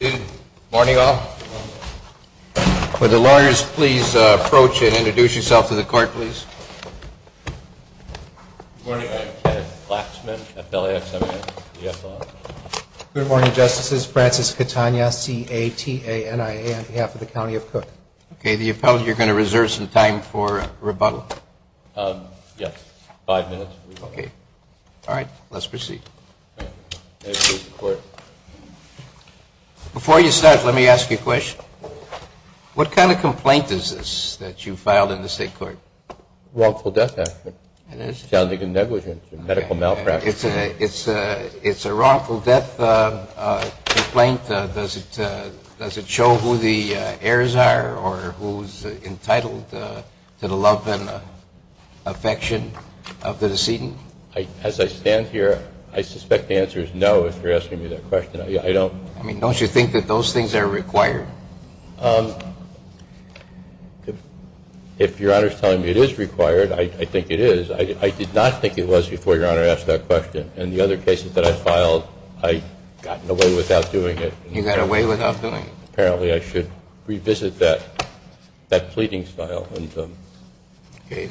Good morning all. Would the lawyers please approach and introduce yourself to the court, please. Good morning. I'm Kenneth Flaxman, appellee at 7S ESL. Good morning, Justices. Francis Catania, C-A-T-A-N-I-A, on behalf of the County of Cook. Okay, the appellant, you're going to reserve some time for rebuttal? Yes, five minutes for rebuttal. Okay. All right, let's proceed. Thank you. May it please the Court. Before you start, let me ask you a question. What kind of complaint is this that you filed in the State Court? Wrongful death action. It is? Sounding of negligence, medical malpractice. It's a wrongful death complaint. Does it show who the heirs are or who's entitled to the love and affection of the decedent? As I stand here, I suspect the answer is no, if you're asking me that question. I don't... I mean, don't you think that those things are required? If Your Honor is telling me it is required, I think it is. I did not think it was before Your Honor asked that question. In the other cases that I filed, I got away without doing it. You got away without doing it? Apparently, I should revisit that pleading style. Okay.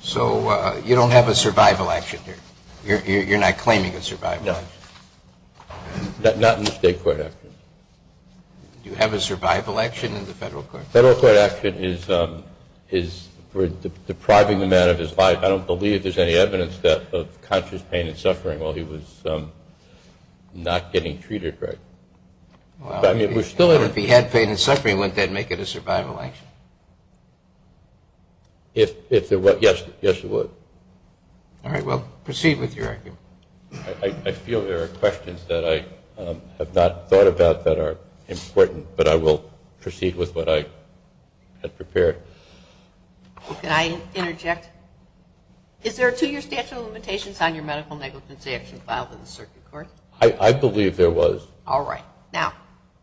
So you don't have a survival action here? You're not claiming a survival action? No. Not in the State Court action. Do you have a survival action in the Federal Court? Federal Court action is depriving the man of his life. I don't believe there's any evidence of conscious pain and suffering while he was not getting treated right. Well, if he had pain and suffering, wouldn't that make it a survival action? If there were, yes it would. All right. Well, proceed with your argument. I feel there are questions that I have not thought about that are important, but I will proceed with what I have prepared. Can I interject? Is there a two-year statute of limitations on your medical negligence action filed in the Circuit Court? I believe there was. All right. Now,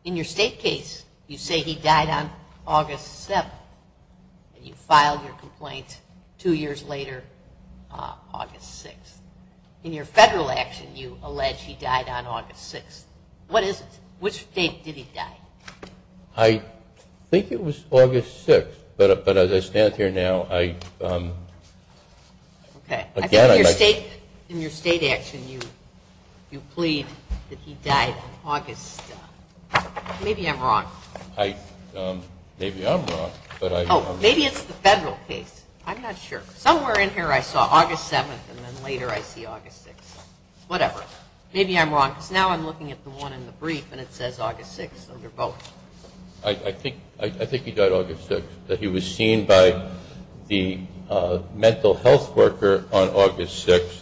in your State case, you say he died on August 7th, and you filed your complaint two years later, August 6th. In your Federal action, you allege he died on August 6th. What is it? Which date did he die? I think it was August 6th, but as I stand here now, I... Okay. I think in your State action, you plead that he died on August... Maybe I'm wrong. I... Maybe I'm wrong, but I... Whatever. Maybe I'm wrong, because now I'm looking at the one in the brief, and it says August 6th under both. I think he died August 6th, but he was seen by the mental health worker on August 6th,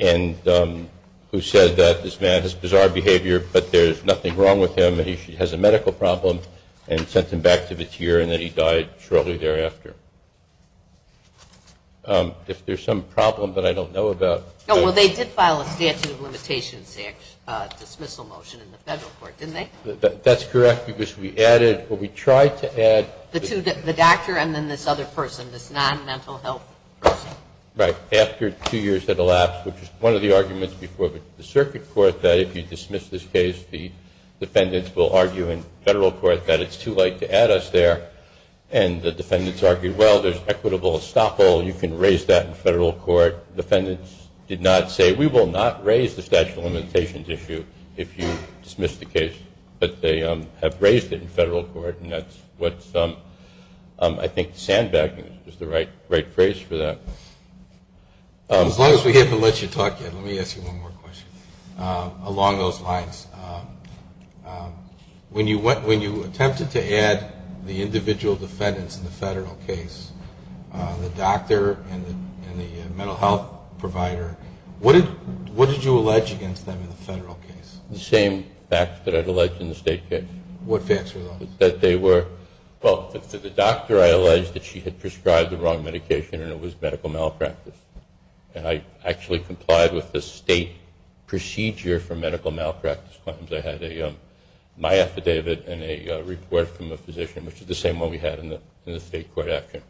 and who said that this man has bizarre behavior, but there's nothing wrong with him, and he has a medical problem, and sent him back to the tier, and that he died shortly thereafter. If there's some problem that I don't know about... Oh, well, they did file a statute of limitations dismissal motion in the Federal court, didn't they? That's correct, because we added... Well, we tried to add... The two... The doctor and then this other person, this non-mental health person. Right. After two years had elapsed, which is one of the arguments before the Circuit Court, that if you dismiss this case, the defendants will argue in Federal court that it's too late to add us there, and the defendants argued, well, there's equitable estoppel, you can raise that in Federal court. Defendants did not say, we will not raise the statute of limitations issue if you dismiss the case, but they have raised it in Federal court, and that's what's... I think sandbagging is the right phrase for that. As long as we haven't let you talk yet, let me ask you one more question. Along those lines, when you attempted to add the individual defendants in the Federal case, the doctor and the mental health provider, what did you allege against them in the Federal case? The same facts that I'd alleged in the State case. What facts were those? That they were... Well, for the doctor, I alleged that she had prescribed the wrong medication and it was medical malpractice. And I actually complied with the State procedure for medical malpractice claims. I had my affidavit and a report from a physician, which is the same one we had in the State court action.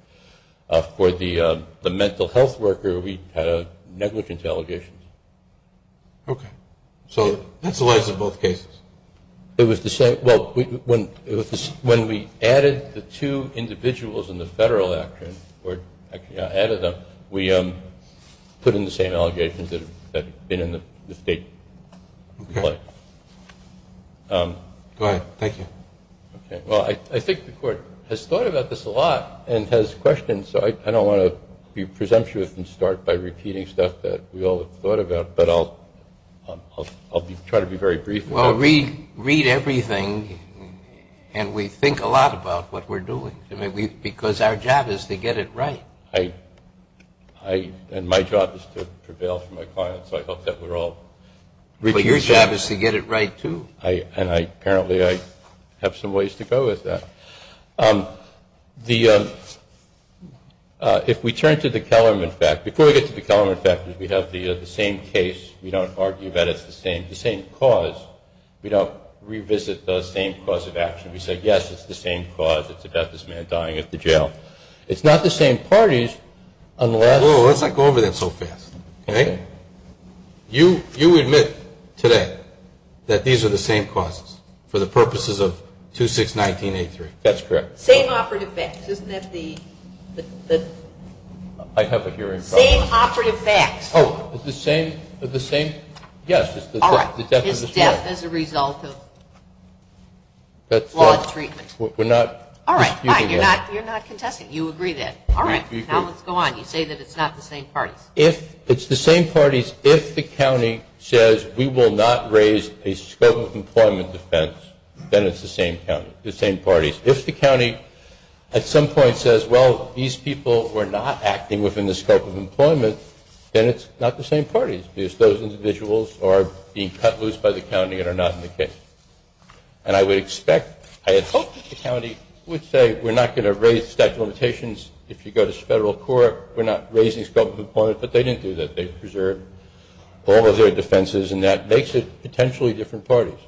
For the mental health worker, we had a negligence allegation. Okay. So that's the lies of both cases. It was the same... Well, when we added the two individuals in the Federal action, or actually added them, we put in the same allegations that had been in the State. Okay. Go ahead. Thank you. Okay. Well, I think the court has thought about this a lot and has questions, so I don't want to be presumptuous and start by repeating stuff that we all have thought about, but I'll try to be very brief. Well, we read everything and we think a lot about what we're doing. Because our job is to get it right. And my job is to prevail for my clients, so I hope that we're all... But your job is to get it right, too. And apparently I have some ways to go with that. If we turn to the Kellerman fact, before we get to the Kellerman fact, we have the same case. We don't argue that it's the same cause. We don't revisit the same cause of action. We say, yes, it's the same cause. It's about this man dying at the jail. It's not the same parties, unless... Whoa, let's not go over that so fast. Okay? You admit today that these are the same causes for the purposes of 2619A3. That's correct. Same operative facts. Isn't that the... I have a hearing problem. Same operative facts. Oh, the same... Yes. All right. His death as a result of... We're not disputing that. All right. Fine. You're not contesting. You agree then. All right. Now let's go on. You say that it's not the same parties. It's the same parties. If the county says we will not raise a scope of employment defense, then it's the same parties. If the county at some point says, well, these people were not acting within the scope of employment, then it's not the same parties, because those individuals are being cut loose by the county and are not in the case. And I would expect... I had hoped that the county would say we're not going to raise statute of limitations. If you go to federal court, we're not raising scope of employment, but they didn't do that. They preserved all of their defenses, and that makes it potentially different parties.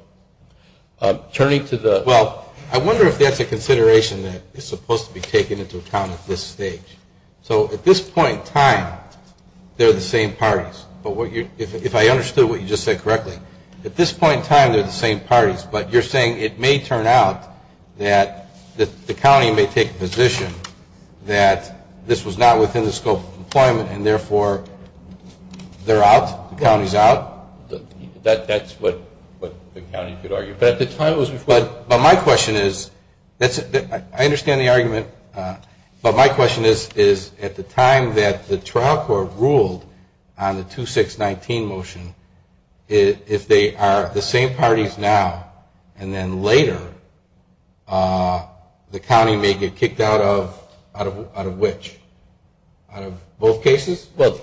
Turning to the... Well, I wonder if that's a consideration that is supposed to be taken into account at this stage. So at this point in time, they're the same parties. But if I understood what you just said correctly, at this point in time, they're the same parties. But you're saying it may turn out that the county may take a position that this was not within the scope of employment, and therefore they're out, the county's out? That's what the county could argue. But at the time it was before... But my question is... I understand the argument. But my question is, at the time that the trial court ruled on the 2-6-19 motion, if they are the same parties now, and then later, the county may get kicked out of which? Out of both cases? Well,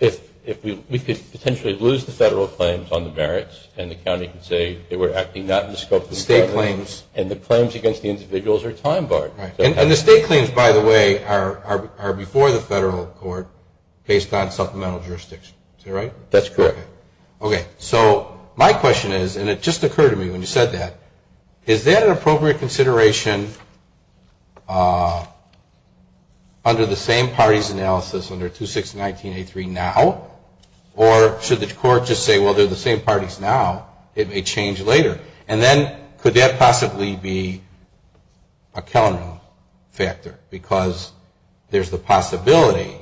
if we could potentially lose the federal claims on the merits, and the county could say they were acting not in the scope of employment... State claims. And the claims against the individuals are time-barred. And the state claims, by the way, are before the federal court, based on supplemental jurisdiction. Is that right? That's correct. Okay. So my question is, and it just occurred to me when you said that, is that an appropriate consideration under the same parties analysis, under 2-6-19-A-3 now? Or should the court just say, well, they're the same parties now, it may change later? And then could that possibly be a counter factor? Because there's the possibility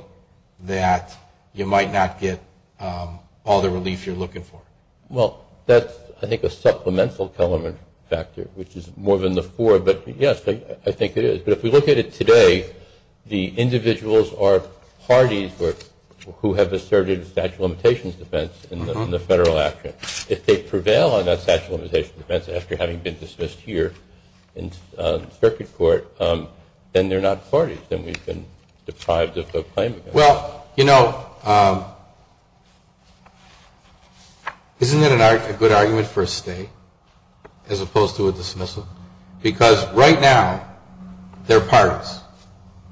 that you might not get all the relief you're looking for. Well, that's, I think, a supplemental element factor, which is more than the four. But yes, I think it is. But if we look at it today, the individuals are parties who have asserted a statute of limitations defense in the federal action. If they prevail on that statute of limitations defense after having been dismissed here in circuit court, then they're not parties. Then we've been deprived of a claim against them. Well, you know, isn't that a good argument for a state, as opposed to a dismissal? Because right now, they're parties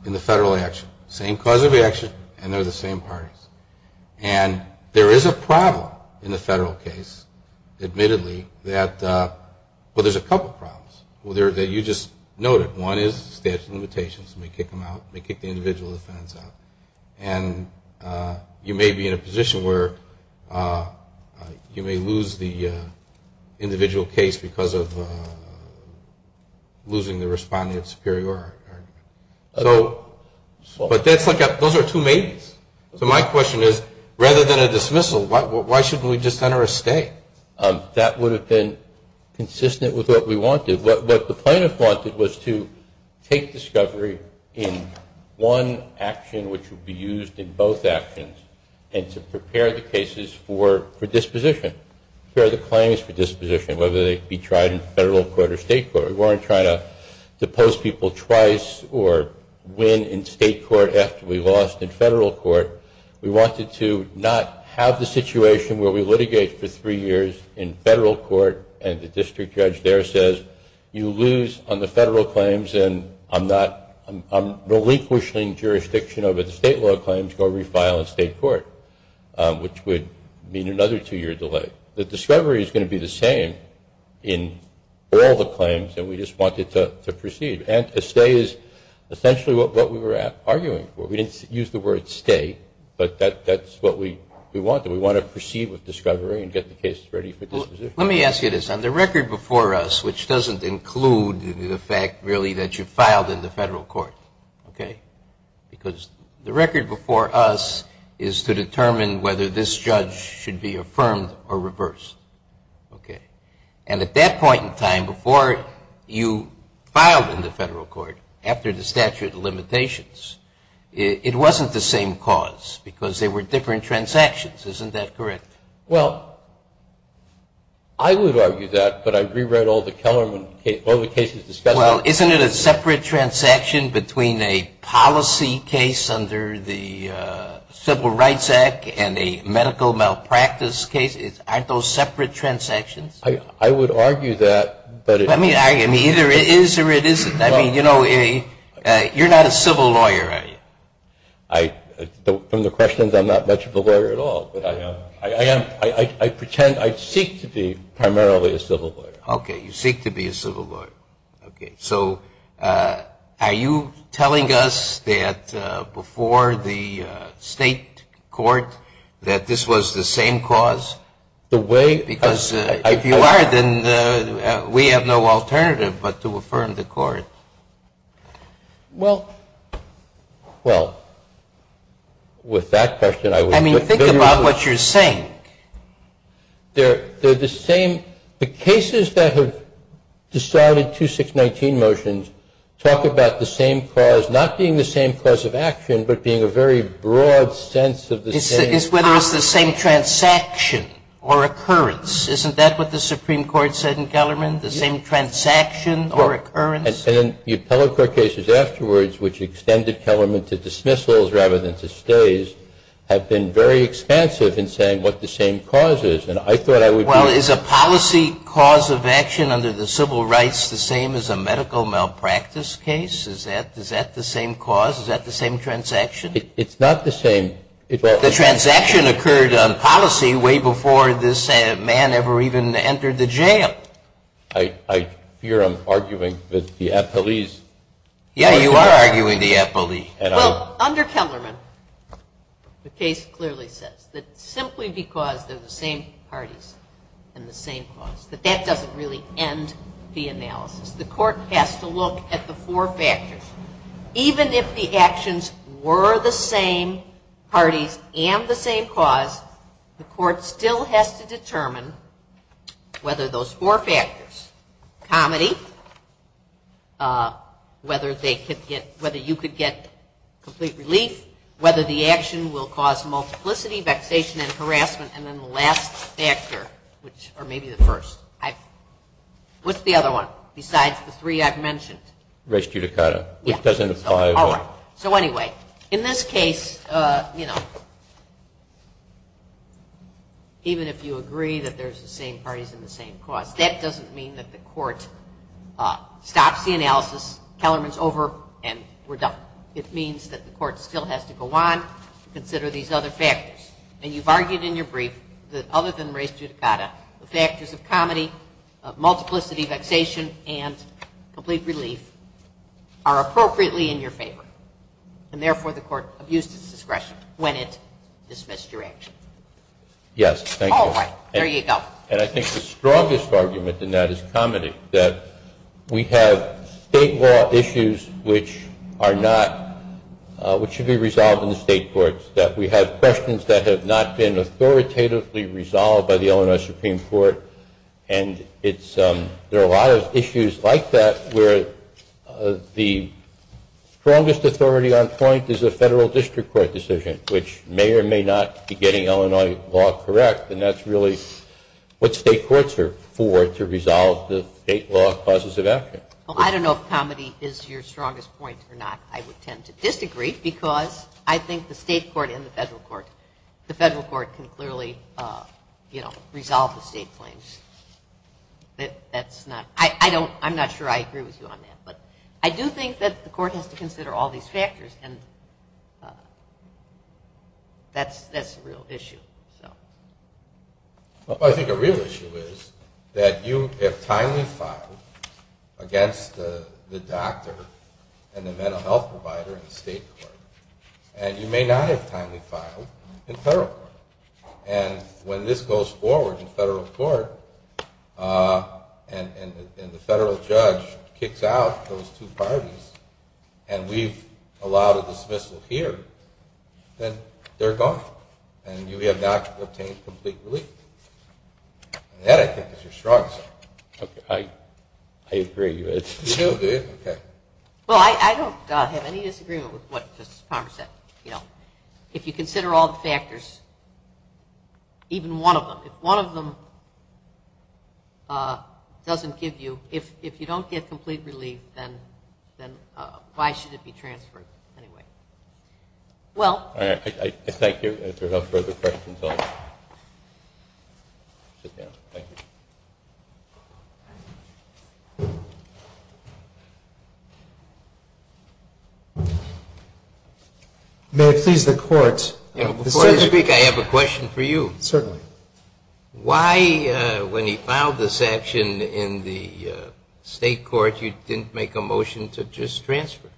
in the federal action. Same cause of action, and they're the same parties. And there is a problem in the federal case, admittedly, that, well, there's a couple of problems that you just noted. One is statute of limitations. We kick them out. We kick the individual defense out. And you may be in a position where you may lose the individual case because of losing the respondent superior argument. So, but that's like, those are two maybes. So my question is, rather than a dismissal, why shouldn't we just enter a stay? That would have been consistent with what we wanted. What the plaintiffs wanted was to take discovery in one action, which would be used in both actions, and to prepare the cases for disposition. Prepare the claims for disposition, whether they be tried in federal court or state court. We weren't trying to depose people twice or win in state court after we lost in federal court. We wanted to not have the situation where we litigate for three years in federal court and the district judge there says, you lose on the federal claims and I'm relinquishing jurisdiction over the state law claims. Go refile in state court, which would mean another two-year delay. The discovery is going to be the same in all the claims, and we just wanted to proceed. And a stay is essentially what we were arguing for. We didn't use the word stay, but that's what we wanted. We wanted to proceed with discovery and get the cases ready for disposition. Let me ask you this. On the record before us, which doesn't include the fact really that you filed in the federal court, okay, because the record before us is to determine whether this judge should be affirmed or reversed, okay, and at that point in time, before you filed in the federal court, after the statute of limitations, it wasn't the same cause because there were different transactions. Isn't that correct? Well, I would argue that, but I rewrote all the cases discussed. Well, isn't it a separate transaction between a policy case under the Civil Rights Act and a medical malpractice case? Aren't those separate transactions? I would argue that. I mean, either it is or it isn't. I mean, you're not a civil lawyer, are you? From the questions, I'm not much of a lawyer at all, but I am. I pretend, I seek to be primarily a civil lawyer. Okay, you seek to be a civil lawyer. Okay, so are you telling us that before the state court that this was the same cause? Because if you are, then we have no alternative but to affirm the court. Well, with that question, I mean, think about what you're saying. They're the same. The cases that have decided 2619 motions talk about the same cause not being the same cause of action but being a very broad sense of the same cause. It's whether it's the same transaction or occurrence. Isn't that what the Supreme Court said in Kellerman? The same transaction or occurrence? And the appellate court cases afterwards which extended Kellerman to dismissals rather than to stays have been very expansive in saying what the same cause is. Well, is a policy cause of action under the civil rights the same as a medical malpractice case? Is that the same cause? Is that the same transaction? It's not the same. The transaction occurred on policy way before this man ever even entered the jail. I fear I'm arguing with the appellees. Yeah, you are arguing the appellees. Well, under Kellerman, the case clearly says that simply because they're the same parties and the same cause, that that doesn't really end the analysis. The court has to look at the four factors. Even if the actions were the same parties and the same cause, the court still has to determine whether those four factors, comedy, whether you could get complete relief, whether the action will cause multiplicity, vexation and harassment, and then the last factor, or maybe the first. What's the other one besides the three I've mentioned? Res judicata, which doesn't apply. All right. So anyway, in this case, even if you agree that there's the same parties and the same cause, that doesn't mean that the court stops the analysis, Kellerman's over, and we're done. It means that the court still has to go on to consider these other factors. And you've argued in your brief that other than res judicata, the factors of comedy, of multiplicity, vexation, and complete relief are appropriately in your favor, and therefore the court abused its discretion when it dismissed your action. Yes. Thank you. All right. There you go. And I think the strongest argument in that is comedy, that we have state law issues which are not, which should be resolved in the state courts, that we have questions that have not been authoritatively resolved by the Illinois Supreme Court, and there are a lot of issues like that where the strongest authority on point is a federal district court decision, which may or may not be getting Illinois law correct, and that's really what state courts are for to resolve the state law causes of action. Well, I don't know if comedy is the strongest point or not. I would tend to disagree because I think the state court and the federal court, the federal court can clearly, you know, resolve the state claims. That's not, I don't, I'm not sure I agree with you on that, but I do think that the court has to consider all these factors, and that's a real issue. So. Well, I think a real issue is that you have timely filed against the doctor and the mental health provider in the state court, and you may not have timely filed in federal court, and when this goes forward in federal court and the federal judge kicks out those two parties and we've allowed a dismissal here, then they're gone, and you have not obtained complete relief. And that, I think, that's your strong side. I agree with you. You do, do you? Well, I don't have any disagreement with what Justice Palmer said. You know, if you consider all the factors, even one of them, if one of them doesn't give you, if you don't get complete relief, then why should it be transferred anyway? Well. I thank you. If there's no further questions, I'd like to close. Sit down. Thank you. May I please the court? Before you speak, I have a question for you. Certainly. Why, when he filed this action in the state court, you didn't make a motion to just transfer?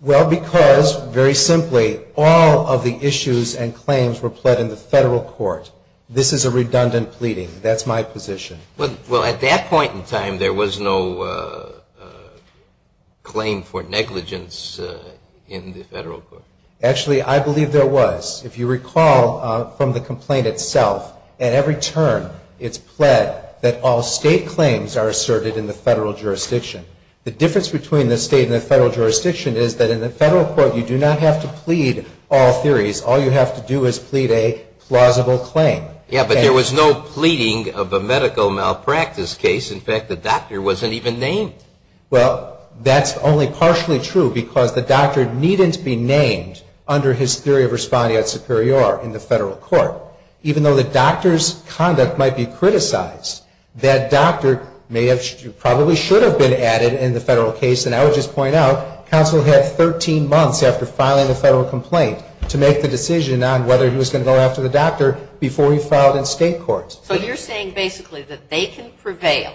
Well, because, very simply, all state claims were pled in the federal court. This is a redundant pleading. That's my position. Well, at that point in time, there was no claim for negligence in the federal court. Actually, I believe there was. If you recall from the complaint itself, at every turn, it's pled that all state claims are asserted in the federal jurisdiction. The difference between the state and the federal jurisdiction is that the state could plead a plausible claim. Yeah, but there was no pleading of a medical malpractice case. In fact, the doctor wasn't even named. Well, that's only partially true because the doctor needn't be named under his theory of respondeat superior in the federal court. Even though the doctor's conduct might be criticized, that doctor probably should have been added in the federal case. And I would just point out, he was going to go after the doctor before he filed in state court. So you're saying basically that they can prevail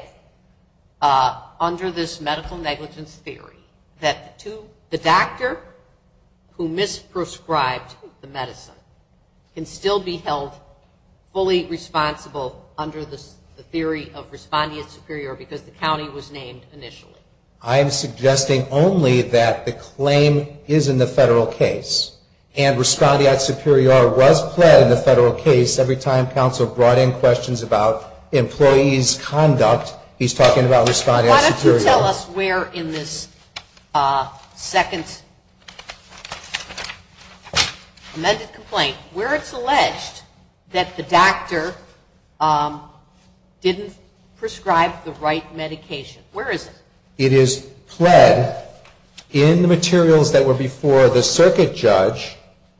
under this medical negligence theory that the doctor who misprescribed the medicine can still be held fully responsible under the theory of respondeat superior because the county was named initially. I am suggesting only that the claim is in the federal case and respondeat superior is pled in the federal case every time counsel brought in questions about employee's conduct. He's talking about respondeat superior. Why don't you tell us where in this second amended complaint where it's alleged that the doctor didn't prescribe the right medication. Where is it? It is pled in the materials that were before the circuit judge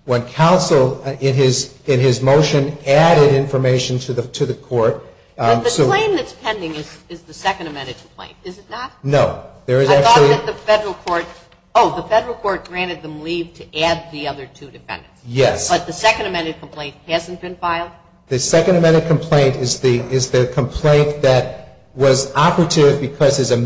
in his motion added information to the court. The claim that's pending is the second amended complaint. Is it not? No. I thought that the federal court granted them leave to add the other two defendants. Yes. But the second amended complaint hasn't been filed? The second amended complaint is the complaint that was operative and that is that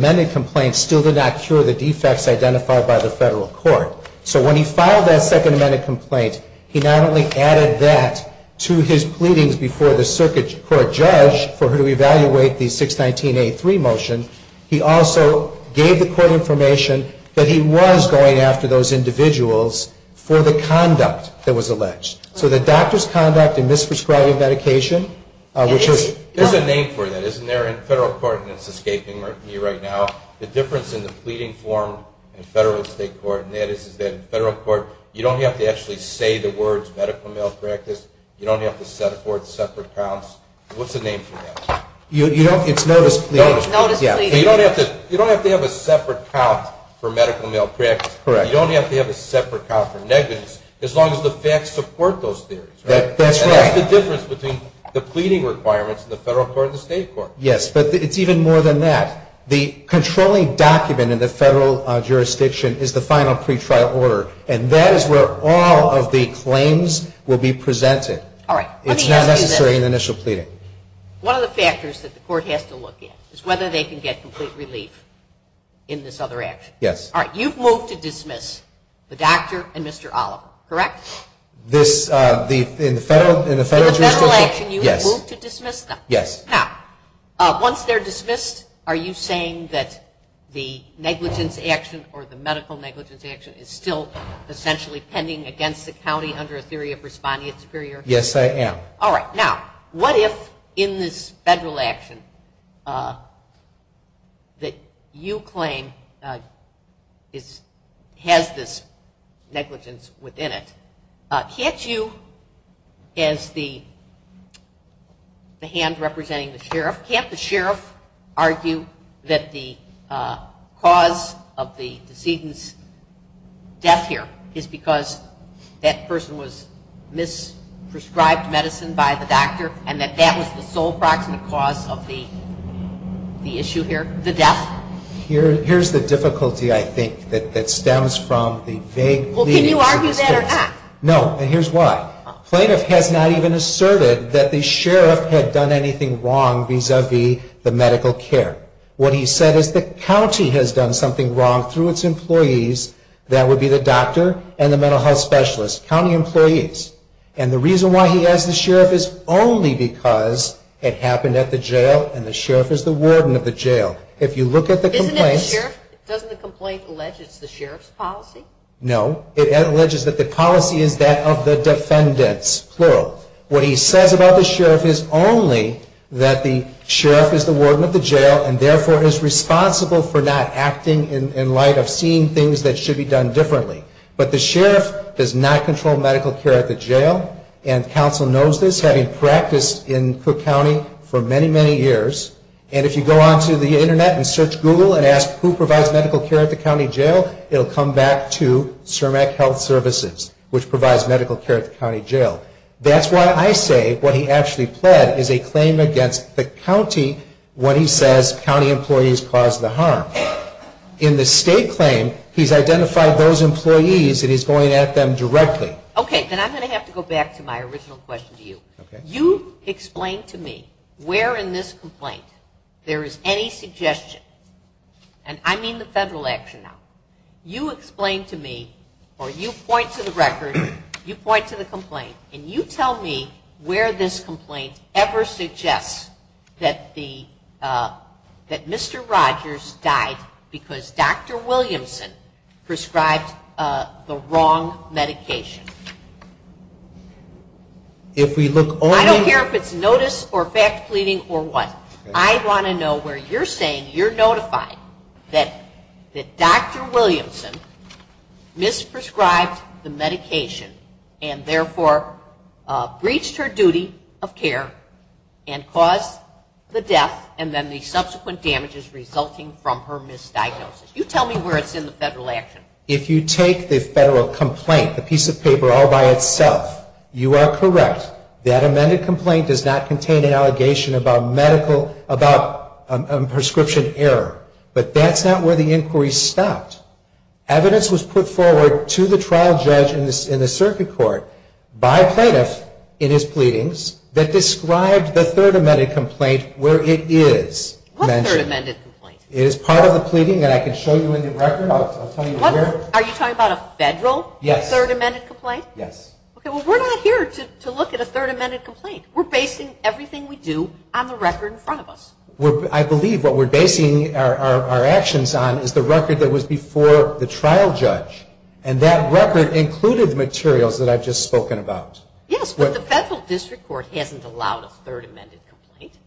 in fact to his pleadings before the circuit court judge for her to evaluate the 619A3 motion he also gave the court information that he was going after those individuals for the conduct that was alleged. So the doctor's conduct in misprescribing medication which is... There's a name for that. Isn't there in federal court and it's escaping me right now. The difference in the pleading form in federal and state court and that is that in federal court you don't have to actually say the words medical malpractice. You don't have to set forth separate counts. What's the name for that? You don't have to have a separate count for medical malpractice. That's the difference in the pleading requirements in the federal court and the state court. Yes, but it's even more than that. The controlling document in the federal jurisdiction is the final pretrial order and that is where all will be presented. It's not necessary in the initial pleading. One of the factors is that you have to move to dismiss them. Once they're dismissed are you saying that the negligence action or the medical negligence action is still essentially pending against the county under a theory of responding superior? Yes, I am. What if in this federal action that you claim has this negligence in the hand representing the sheriff. Can't the sheriff argue that the cause of the decedent's death here is because that person was misprescribed medicine by the doctor and that that was the sole proximate cause of the issue here, the death? Here's the difficulty I think that stems from the fact that the sheriff had done anything wrong vis-a-vis the medical care. What he said is the county has done something wrong through its employees that would be the doctor and the mental health specialist, county employees. And the reason why he says this is only that the sheriff is the warden of the jail and therefore is responsible for not acting in light of seeing things that should be done differently. But the sheriff does not control medical care at the jail and counsel knows this having practiced medical care. What he said is a claim against the county when he says county employees caused the harm. In the state claim he's identified those employees and he's going at them directly. Okay, then I'm going to have to go back to my original question to you. You explain to me why you never suggest that Mr. Rogers died because Dr. Williamson prescribed the wrong medication. I don't care if it's notice or fact pleading or what. I want to know where you're saying you're notified that Dr. Williamson prescribed the wrong medication and caused the death and then the subsequent damages resulting from her misdiagnosis. You tell me where it's in the federal action. If you take the federal complaint, the piece of paper all by itself, you are correct. That amended complaint does not contain an allegation about prescription error, but that's not where the inquiry stopped. Evidence was put forward to the trial judge in the circuit court by plaintiff in his pleadings that described the third amended complaint where it is mentioned. What third amended complaint? We're basing everything we do on the record in front of us. I believe what we're basing our actions on is the record that was before the trial judge and that record included materials that I've just spoken about. Yes, but the federal district court hasn't allowed a complete relief.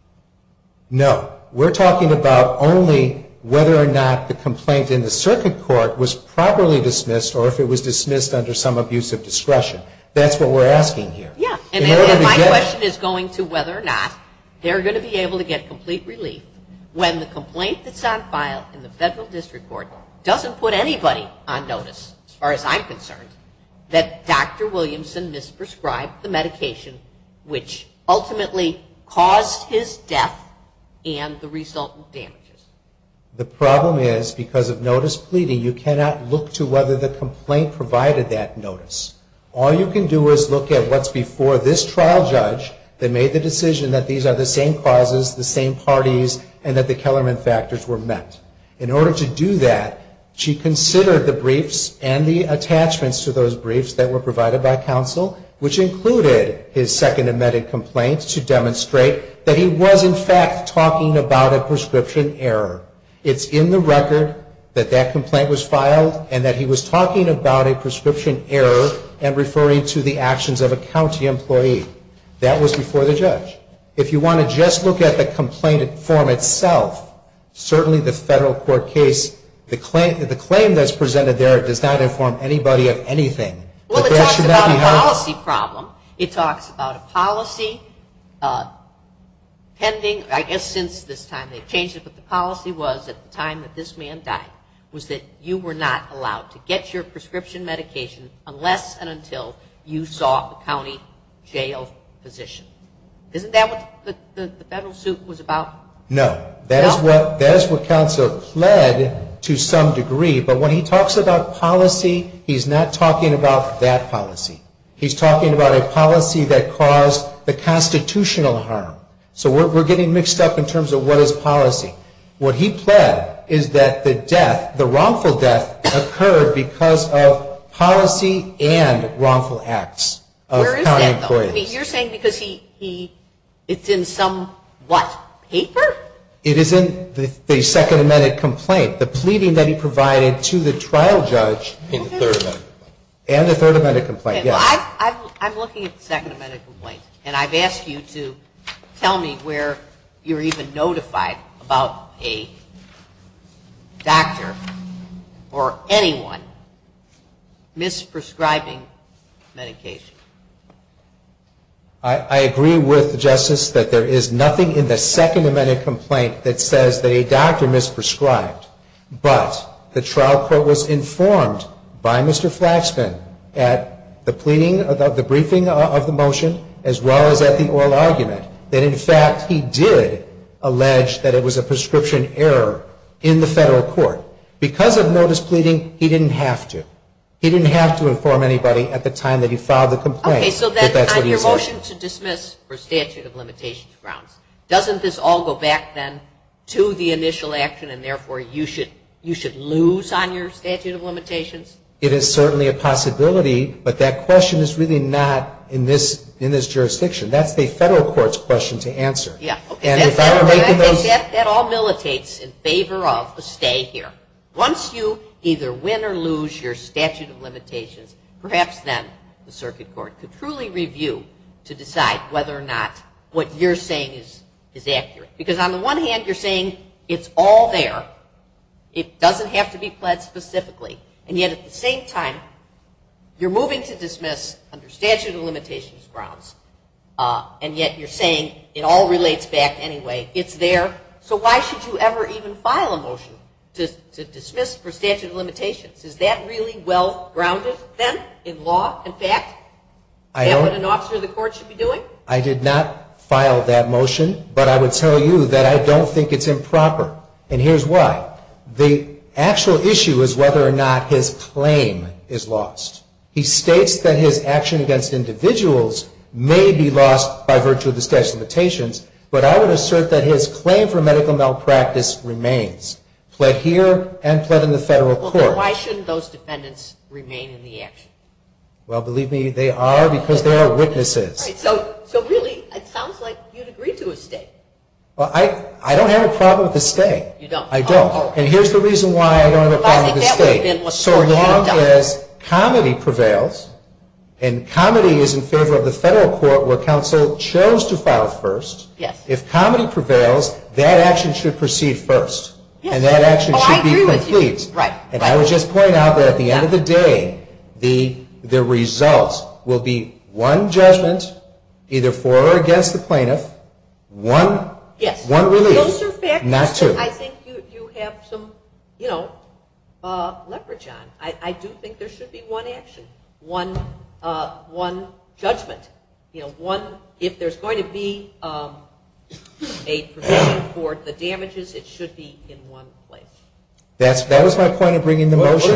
My question is going to whether or not they're going to be able to get complete relief when the complaint that's on file in the federal district court doesn't put anybody on notice as far as I'm concerned that Dr. Williamson misprescribed the medication which ultimately caused his death and the trial judge that made the decision that these are the same causes, the same parties and that the Kellerman factors were met. In order to do that, she considered the briefs and the attachments to those briefs that were provided by counsel which included his second amended brief that was before the judge. If you want to just look at the complaint form itself, certainly the federal court case, the claim that's presented there does not inform anybody of anything. Well, it talks about a policy problem. It talks about a policy pending, I guess since this time in the federal position. Isn't that what the federal suit was about? No. That is what counsel pled to some degree, but when he talks about policy, he's not talking about that policy. He's talking about a policy that caused the constitutional harm. So we're getting mixed up in terms of what is policy. What is he saying? Because it's in some, what, paper? It is in the second amended complaint, the pleading that he provided to the trial judge and the third amended complaint. I'm looking at the second amended complaint, and I've asked you to tell me where you're even notified about a doctor or anyone who is prescribed. I agree with Justice that there is nothing in the second amended complaint that says that a doctor misprescribed, but the trial court was informed by Mr. Flaxman at the briefing of the motion as well as at the oral argument that in fact he did allege that it was a statute of limitations grounds. Doesn't this all go back then to the initial action and therefore you should lose on your statute of limitations? It is certainly a possibility, but that question is really not in this jurisdiction. That's the federal court's question to answer. Yeah, okay. I think that all militates in this case to decide whether or not what you're saying is accurate. Because on the one hand you're saying it's all there, it doesn't have to be pled specifically, and yet at the same time you're moving to dismiss under statute of limitations grounds, and yet you're saying it all relates back anyway, it's there, doesn't it? I did not file that motion, but I would tell you that I don't think it's improper, and here's why. The actual issue is whether or not his claim is lost. He states that his action against individuals may be lost by virtue of the statute of limitations, but I would assert that his claim for medical care is lost. So really it sounds like you'd agree to a state. Well, I don't have a problem with the state. I don't. And here's the reason why I don't have a problem with the state. So long as comedy prevails, and comedy is in favor of the federal court where counsel chose to file first, if comedy prevails, that is either for or against the plaintiff, one release, not two. I think you have some leverage on. I do think there should be one action, one judgment. If there's going to be a provision for the damages, it should be in one place. That was my point in bringing the motion.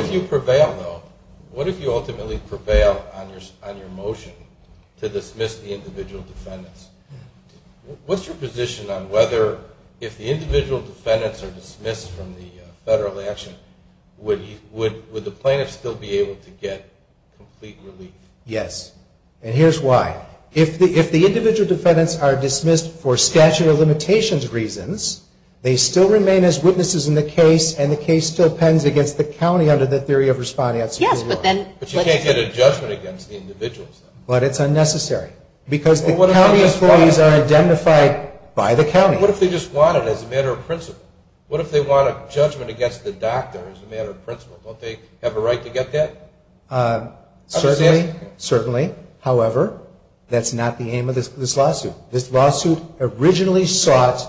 What if you ultimately get a judgment against the individual defendants? What's your position on whether if the individual defendants are dismissed from the federal action, would the plaintiff still be able to get complete relief? Yes. And here's why. If the individual defendants are dismissed for whatever reason, the county employees are identified by the county. What if they just want it as a matter of principle? What if they want a judgment against the doctor as a matter of principle? Don't they have a right to get that? Certainly. However, that's not the aim of this lawsuit. This lawsuit is a lawsuit.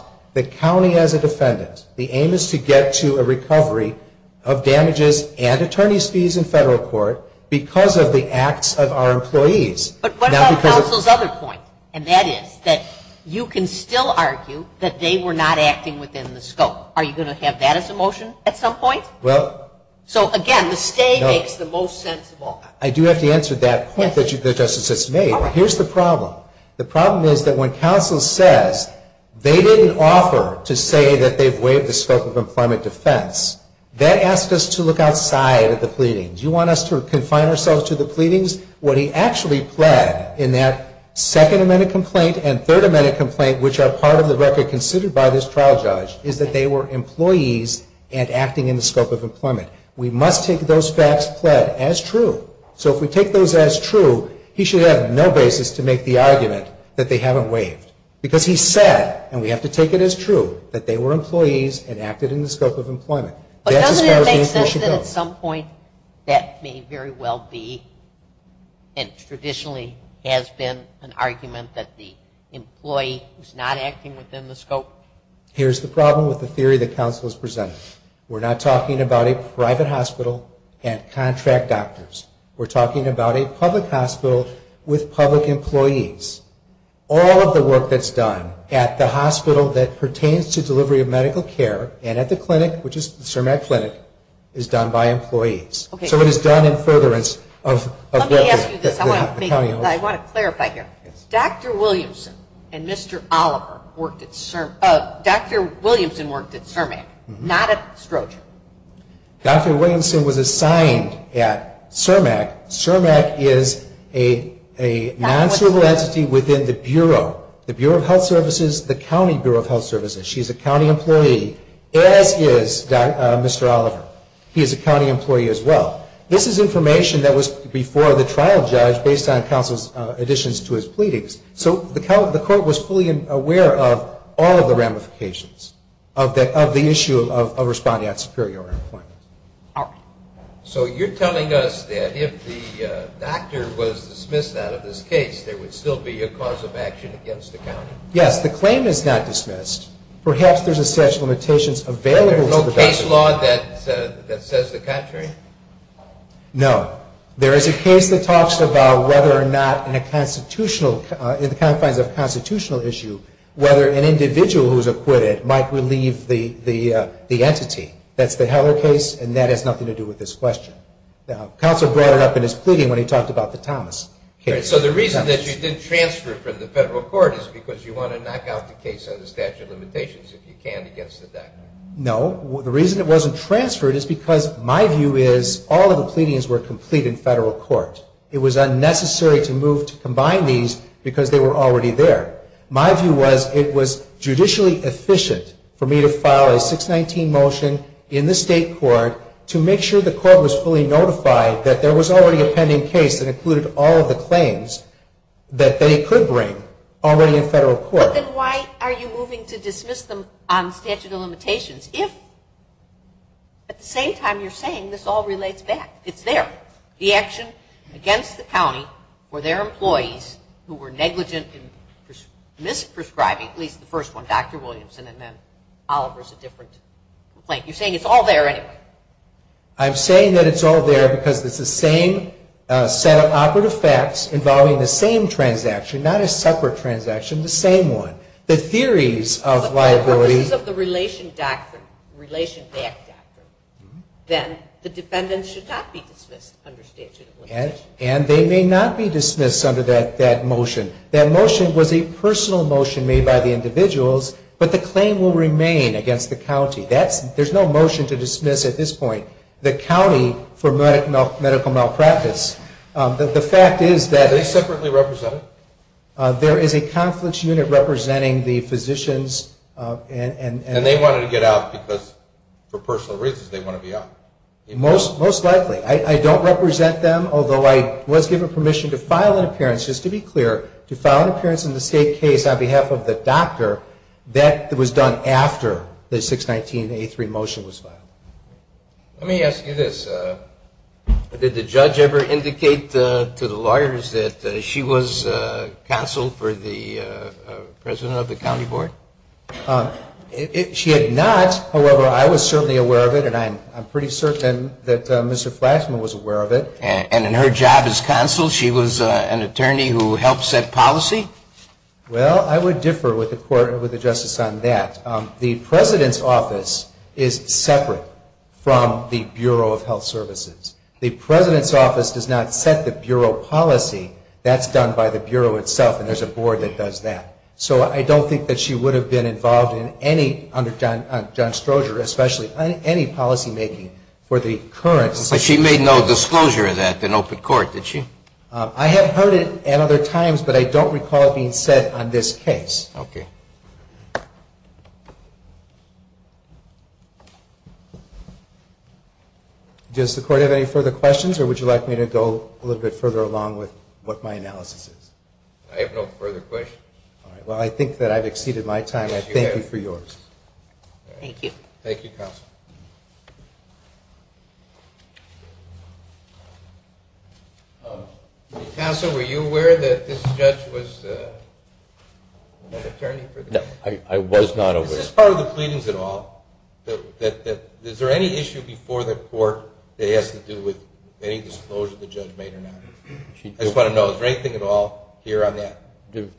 And that is that you can still argue that they were not acting within the scope. Are you going to have that as a motion at some point? Well. So again, the stay makes the most sensible. I do have to answer that point that Justice Smith made. Here's the problem. The problem is that when counsel makes a third amendment complaint and third amendment complaint which are part of the record considered by this trial judge is that they were employees and acting in the scope of employment. We must take those facts as true. So if we take those as true, he should have no basis to make the argument that the employee was not acting within the scope. Here's the problem with the theory that counsel has presented. We're not talking about a private hospital and contract doctors. We're talking about a public hospital with public employees. All of the work that's done at the hospital that pertains to delivery of medical care and delivery of Dr. Williamson and Mr. Oliver worked at CERMAC, not at Stroger. Dr. Williamson was assigned at CERMAC. CERMAC is a non-cervical entity within the Bureau of Health Services, the County Bureau of Health Services. The Court was fully aware of all of the ramifications of the issue of responding at superior employment. So you're telling us that if the doctor was dismissed out of this case, there would still be a cause of action against the county? Yes. The claim is not dismissed. Perhaps there's a set of limitations available to the federal court in terms of constitutional issue, whether an individual who's acquitted might relieve the entity. That's the Heller case, and that has nothing to do with this question. The counsel brought it up in his pleading when he talked about the Thomas case. So the reason that you didn't transfer the case to the federal was already there. My view was it was judicially efficient for me to file a 619 motion in the state court to make sure the court was fully notified that there was already a pending case that included all of the claims that they could bring already in federal court. But then why are you moving to mis-prescribing at least the first one, Dr. Williamson, and then Oliver's a different complaint? You're saying it's all there anyway. I'm saying that it's all there because it's the same set of operative facts involving the same transaction, not a separate transaction, the same one. The claim may not be dismissed under that motion. That motion was a personal motion made by the individuals, but the claim will remain against the county. There's no motion to dismiss at this point the county for medical malpractice. Are they separately represented? There is a conflict unit representing the physicians. And they have permission to file an appearance in the state case on behalf of the doctor. That was done after the 619A3 motion was filed. Let me ask you this. Did the judge ever indicate to the lawyers that she was counsel for the president of the county board? She had not. However, I was certainly aware that she was counsel. She was an attorney who helped set policy? Well, I would differ with the court, with the justice on that. The president's office is separate from the Bureau of Health Services. The president's office does not set the bureau policy. That's done by the bureau itself, and there's a board that sets it. I have heard it at other times, but I don't recall it being said on this case. Does the court have any further questions, or would you like me to go a little bit further along with what my analysis is? I have no further questions. Well, I think that I've exceeded my time. Counsel, were you aware that this judge was an attorney? No, I was not aware. Is this part of the pleadings at all? Is there any issue before the court that has to do with any disclosure the judge made or not?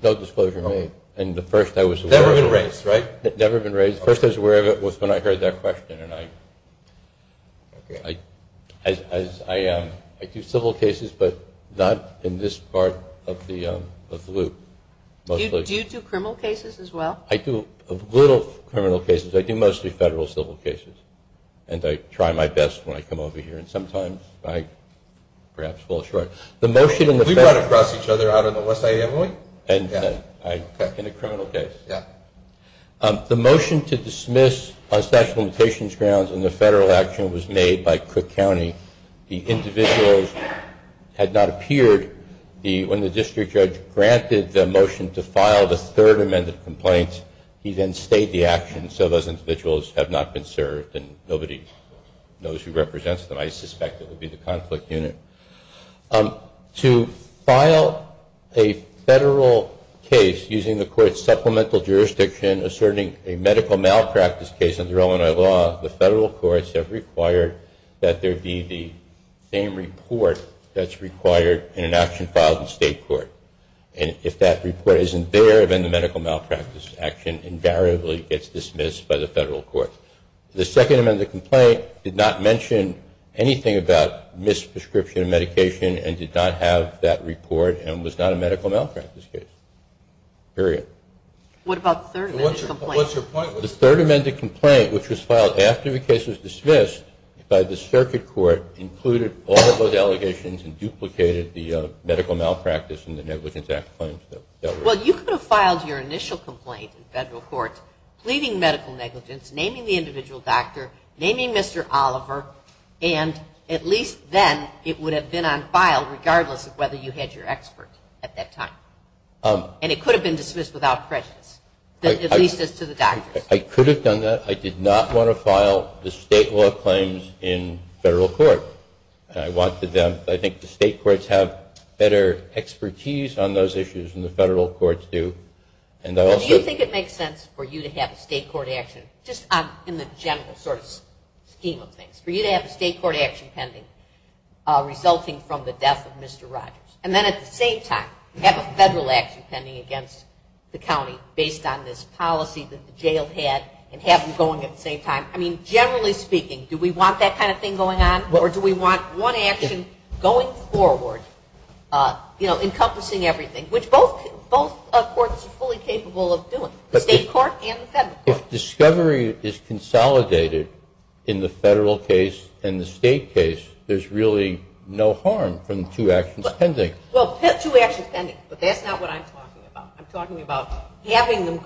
No disclosure made. Never been raised, not in this part of the loop. Do you do criminal cases as well? I do little criminal cases. I do mostly federal civil cases, and I try my best when I come over here, and sometimes I perhaps fall short. We run across each other out on the West Highway? In a criminal case. When the district judge granted the motion to file the third amended complaint, he then stayed the action, so those individuals have not been served and nobody knows who represents them. I suspect it would be the conflict unit. To file a federal case using the court's supplemental jurisdiction asserting a medical malpractice action filed in state court, and if that report isn't there, then the medical malpractice action invariably gets dismissed by the federal court. The second amended complaint did not mention anything about misprescription of medication and did not have that report and was not a medical malpractice case. Well, you could have filed your initial complaint in federal court pleading medical negligence, naming the individual doctor, naming Mr. Oliver, and at least then it would have been on file regardless of whether you had your expert at that time, and it could have been dismissed without prejudice, at least that's what the federal courts do. Do you think it makes sense for you to have a state court action just in the general sort of scheme of things, for you to have a state court action pending resulting from the death of Mr. Rogers, and then at the same time have a federal action encompassing everything, which both courts are fully capable of doing, the state court and the federal court. If discovery is consolidated in the federal case and the state case, there's really no harm from two actions pending. Well, two actions pending, but that's not what I'm talking about. I'm talking about two actions and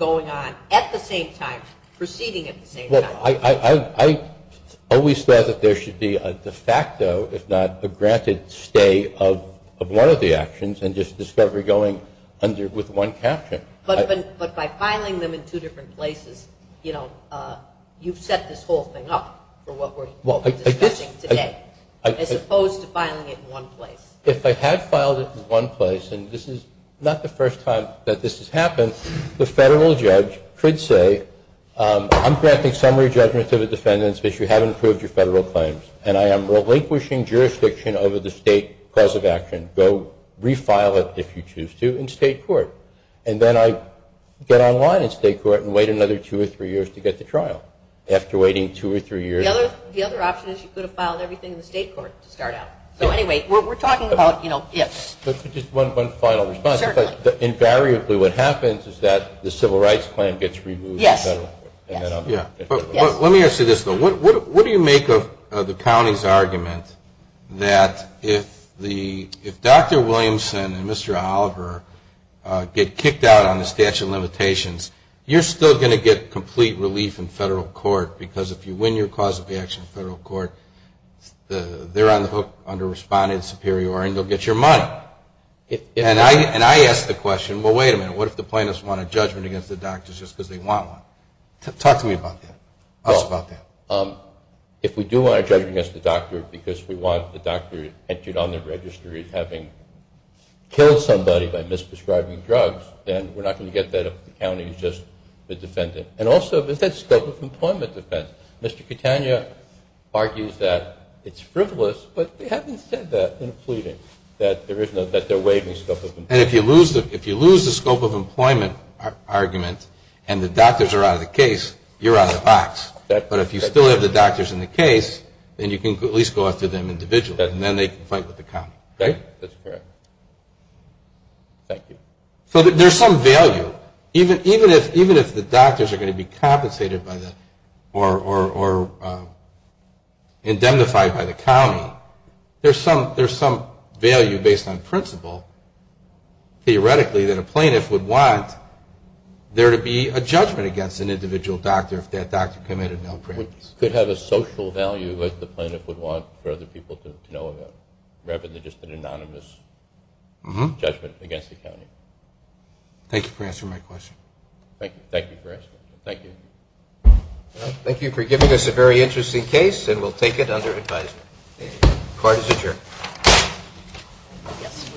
just discovery going under with one caption. But by filing them in two different places, you've set this whole thing up for what we're discussing today, as opposed to filing it in one place. If I had filed it in one place, and this is not the first time that this has happened, the federal judge could say, I'm granting summary judgment to the defendants because you haven't proved your federal claims, and I am relinquishing jurisdiction over the state cause of action. Go refile it if you choose to in state court. And then I get online in state court and wait another two or three years to get the judgment that the civil rights claim gets removed. Yes. Let me ask you this, though. What do you make of the county's argument that if Dr. Williamson and Mr. Oliver get kicked out on the statute of limitations, you're still going to get complete relief in federal court because they don't want a judgment against the doctors just because they want one? Talk to me about that. If we do want a judgment against the doctor because we want the doctor entered on the registry having killed somebody by misdescribing drugs, then we're not going to get that if the county is just the argument and the doctors are out of the case, you're out of the box. But if you still have the doctors in the case, then you can at least go after them individually and then they can fight with the county, right? That's correct. Thank you. So there's some value. Even if the doctors are out of the case, there would be a judgment against an individual doctor if that doctor committed malpractice. It could have a social value as the plaintiff would want for other people to know about rather than just an anonymous judgment against the county. Thank you for giving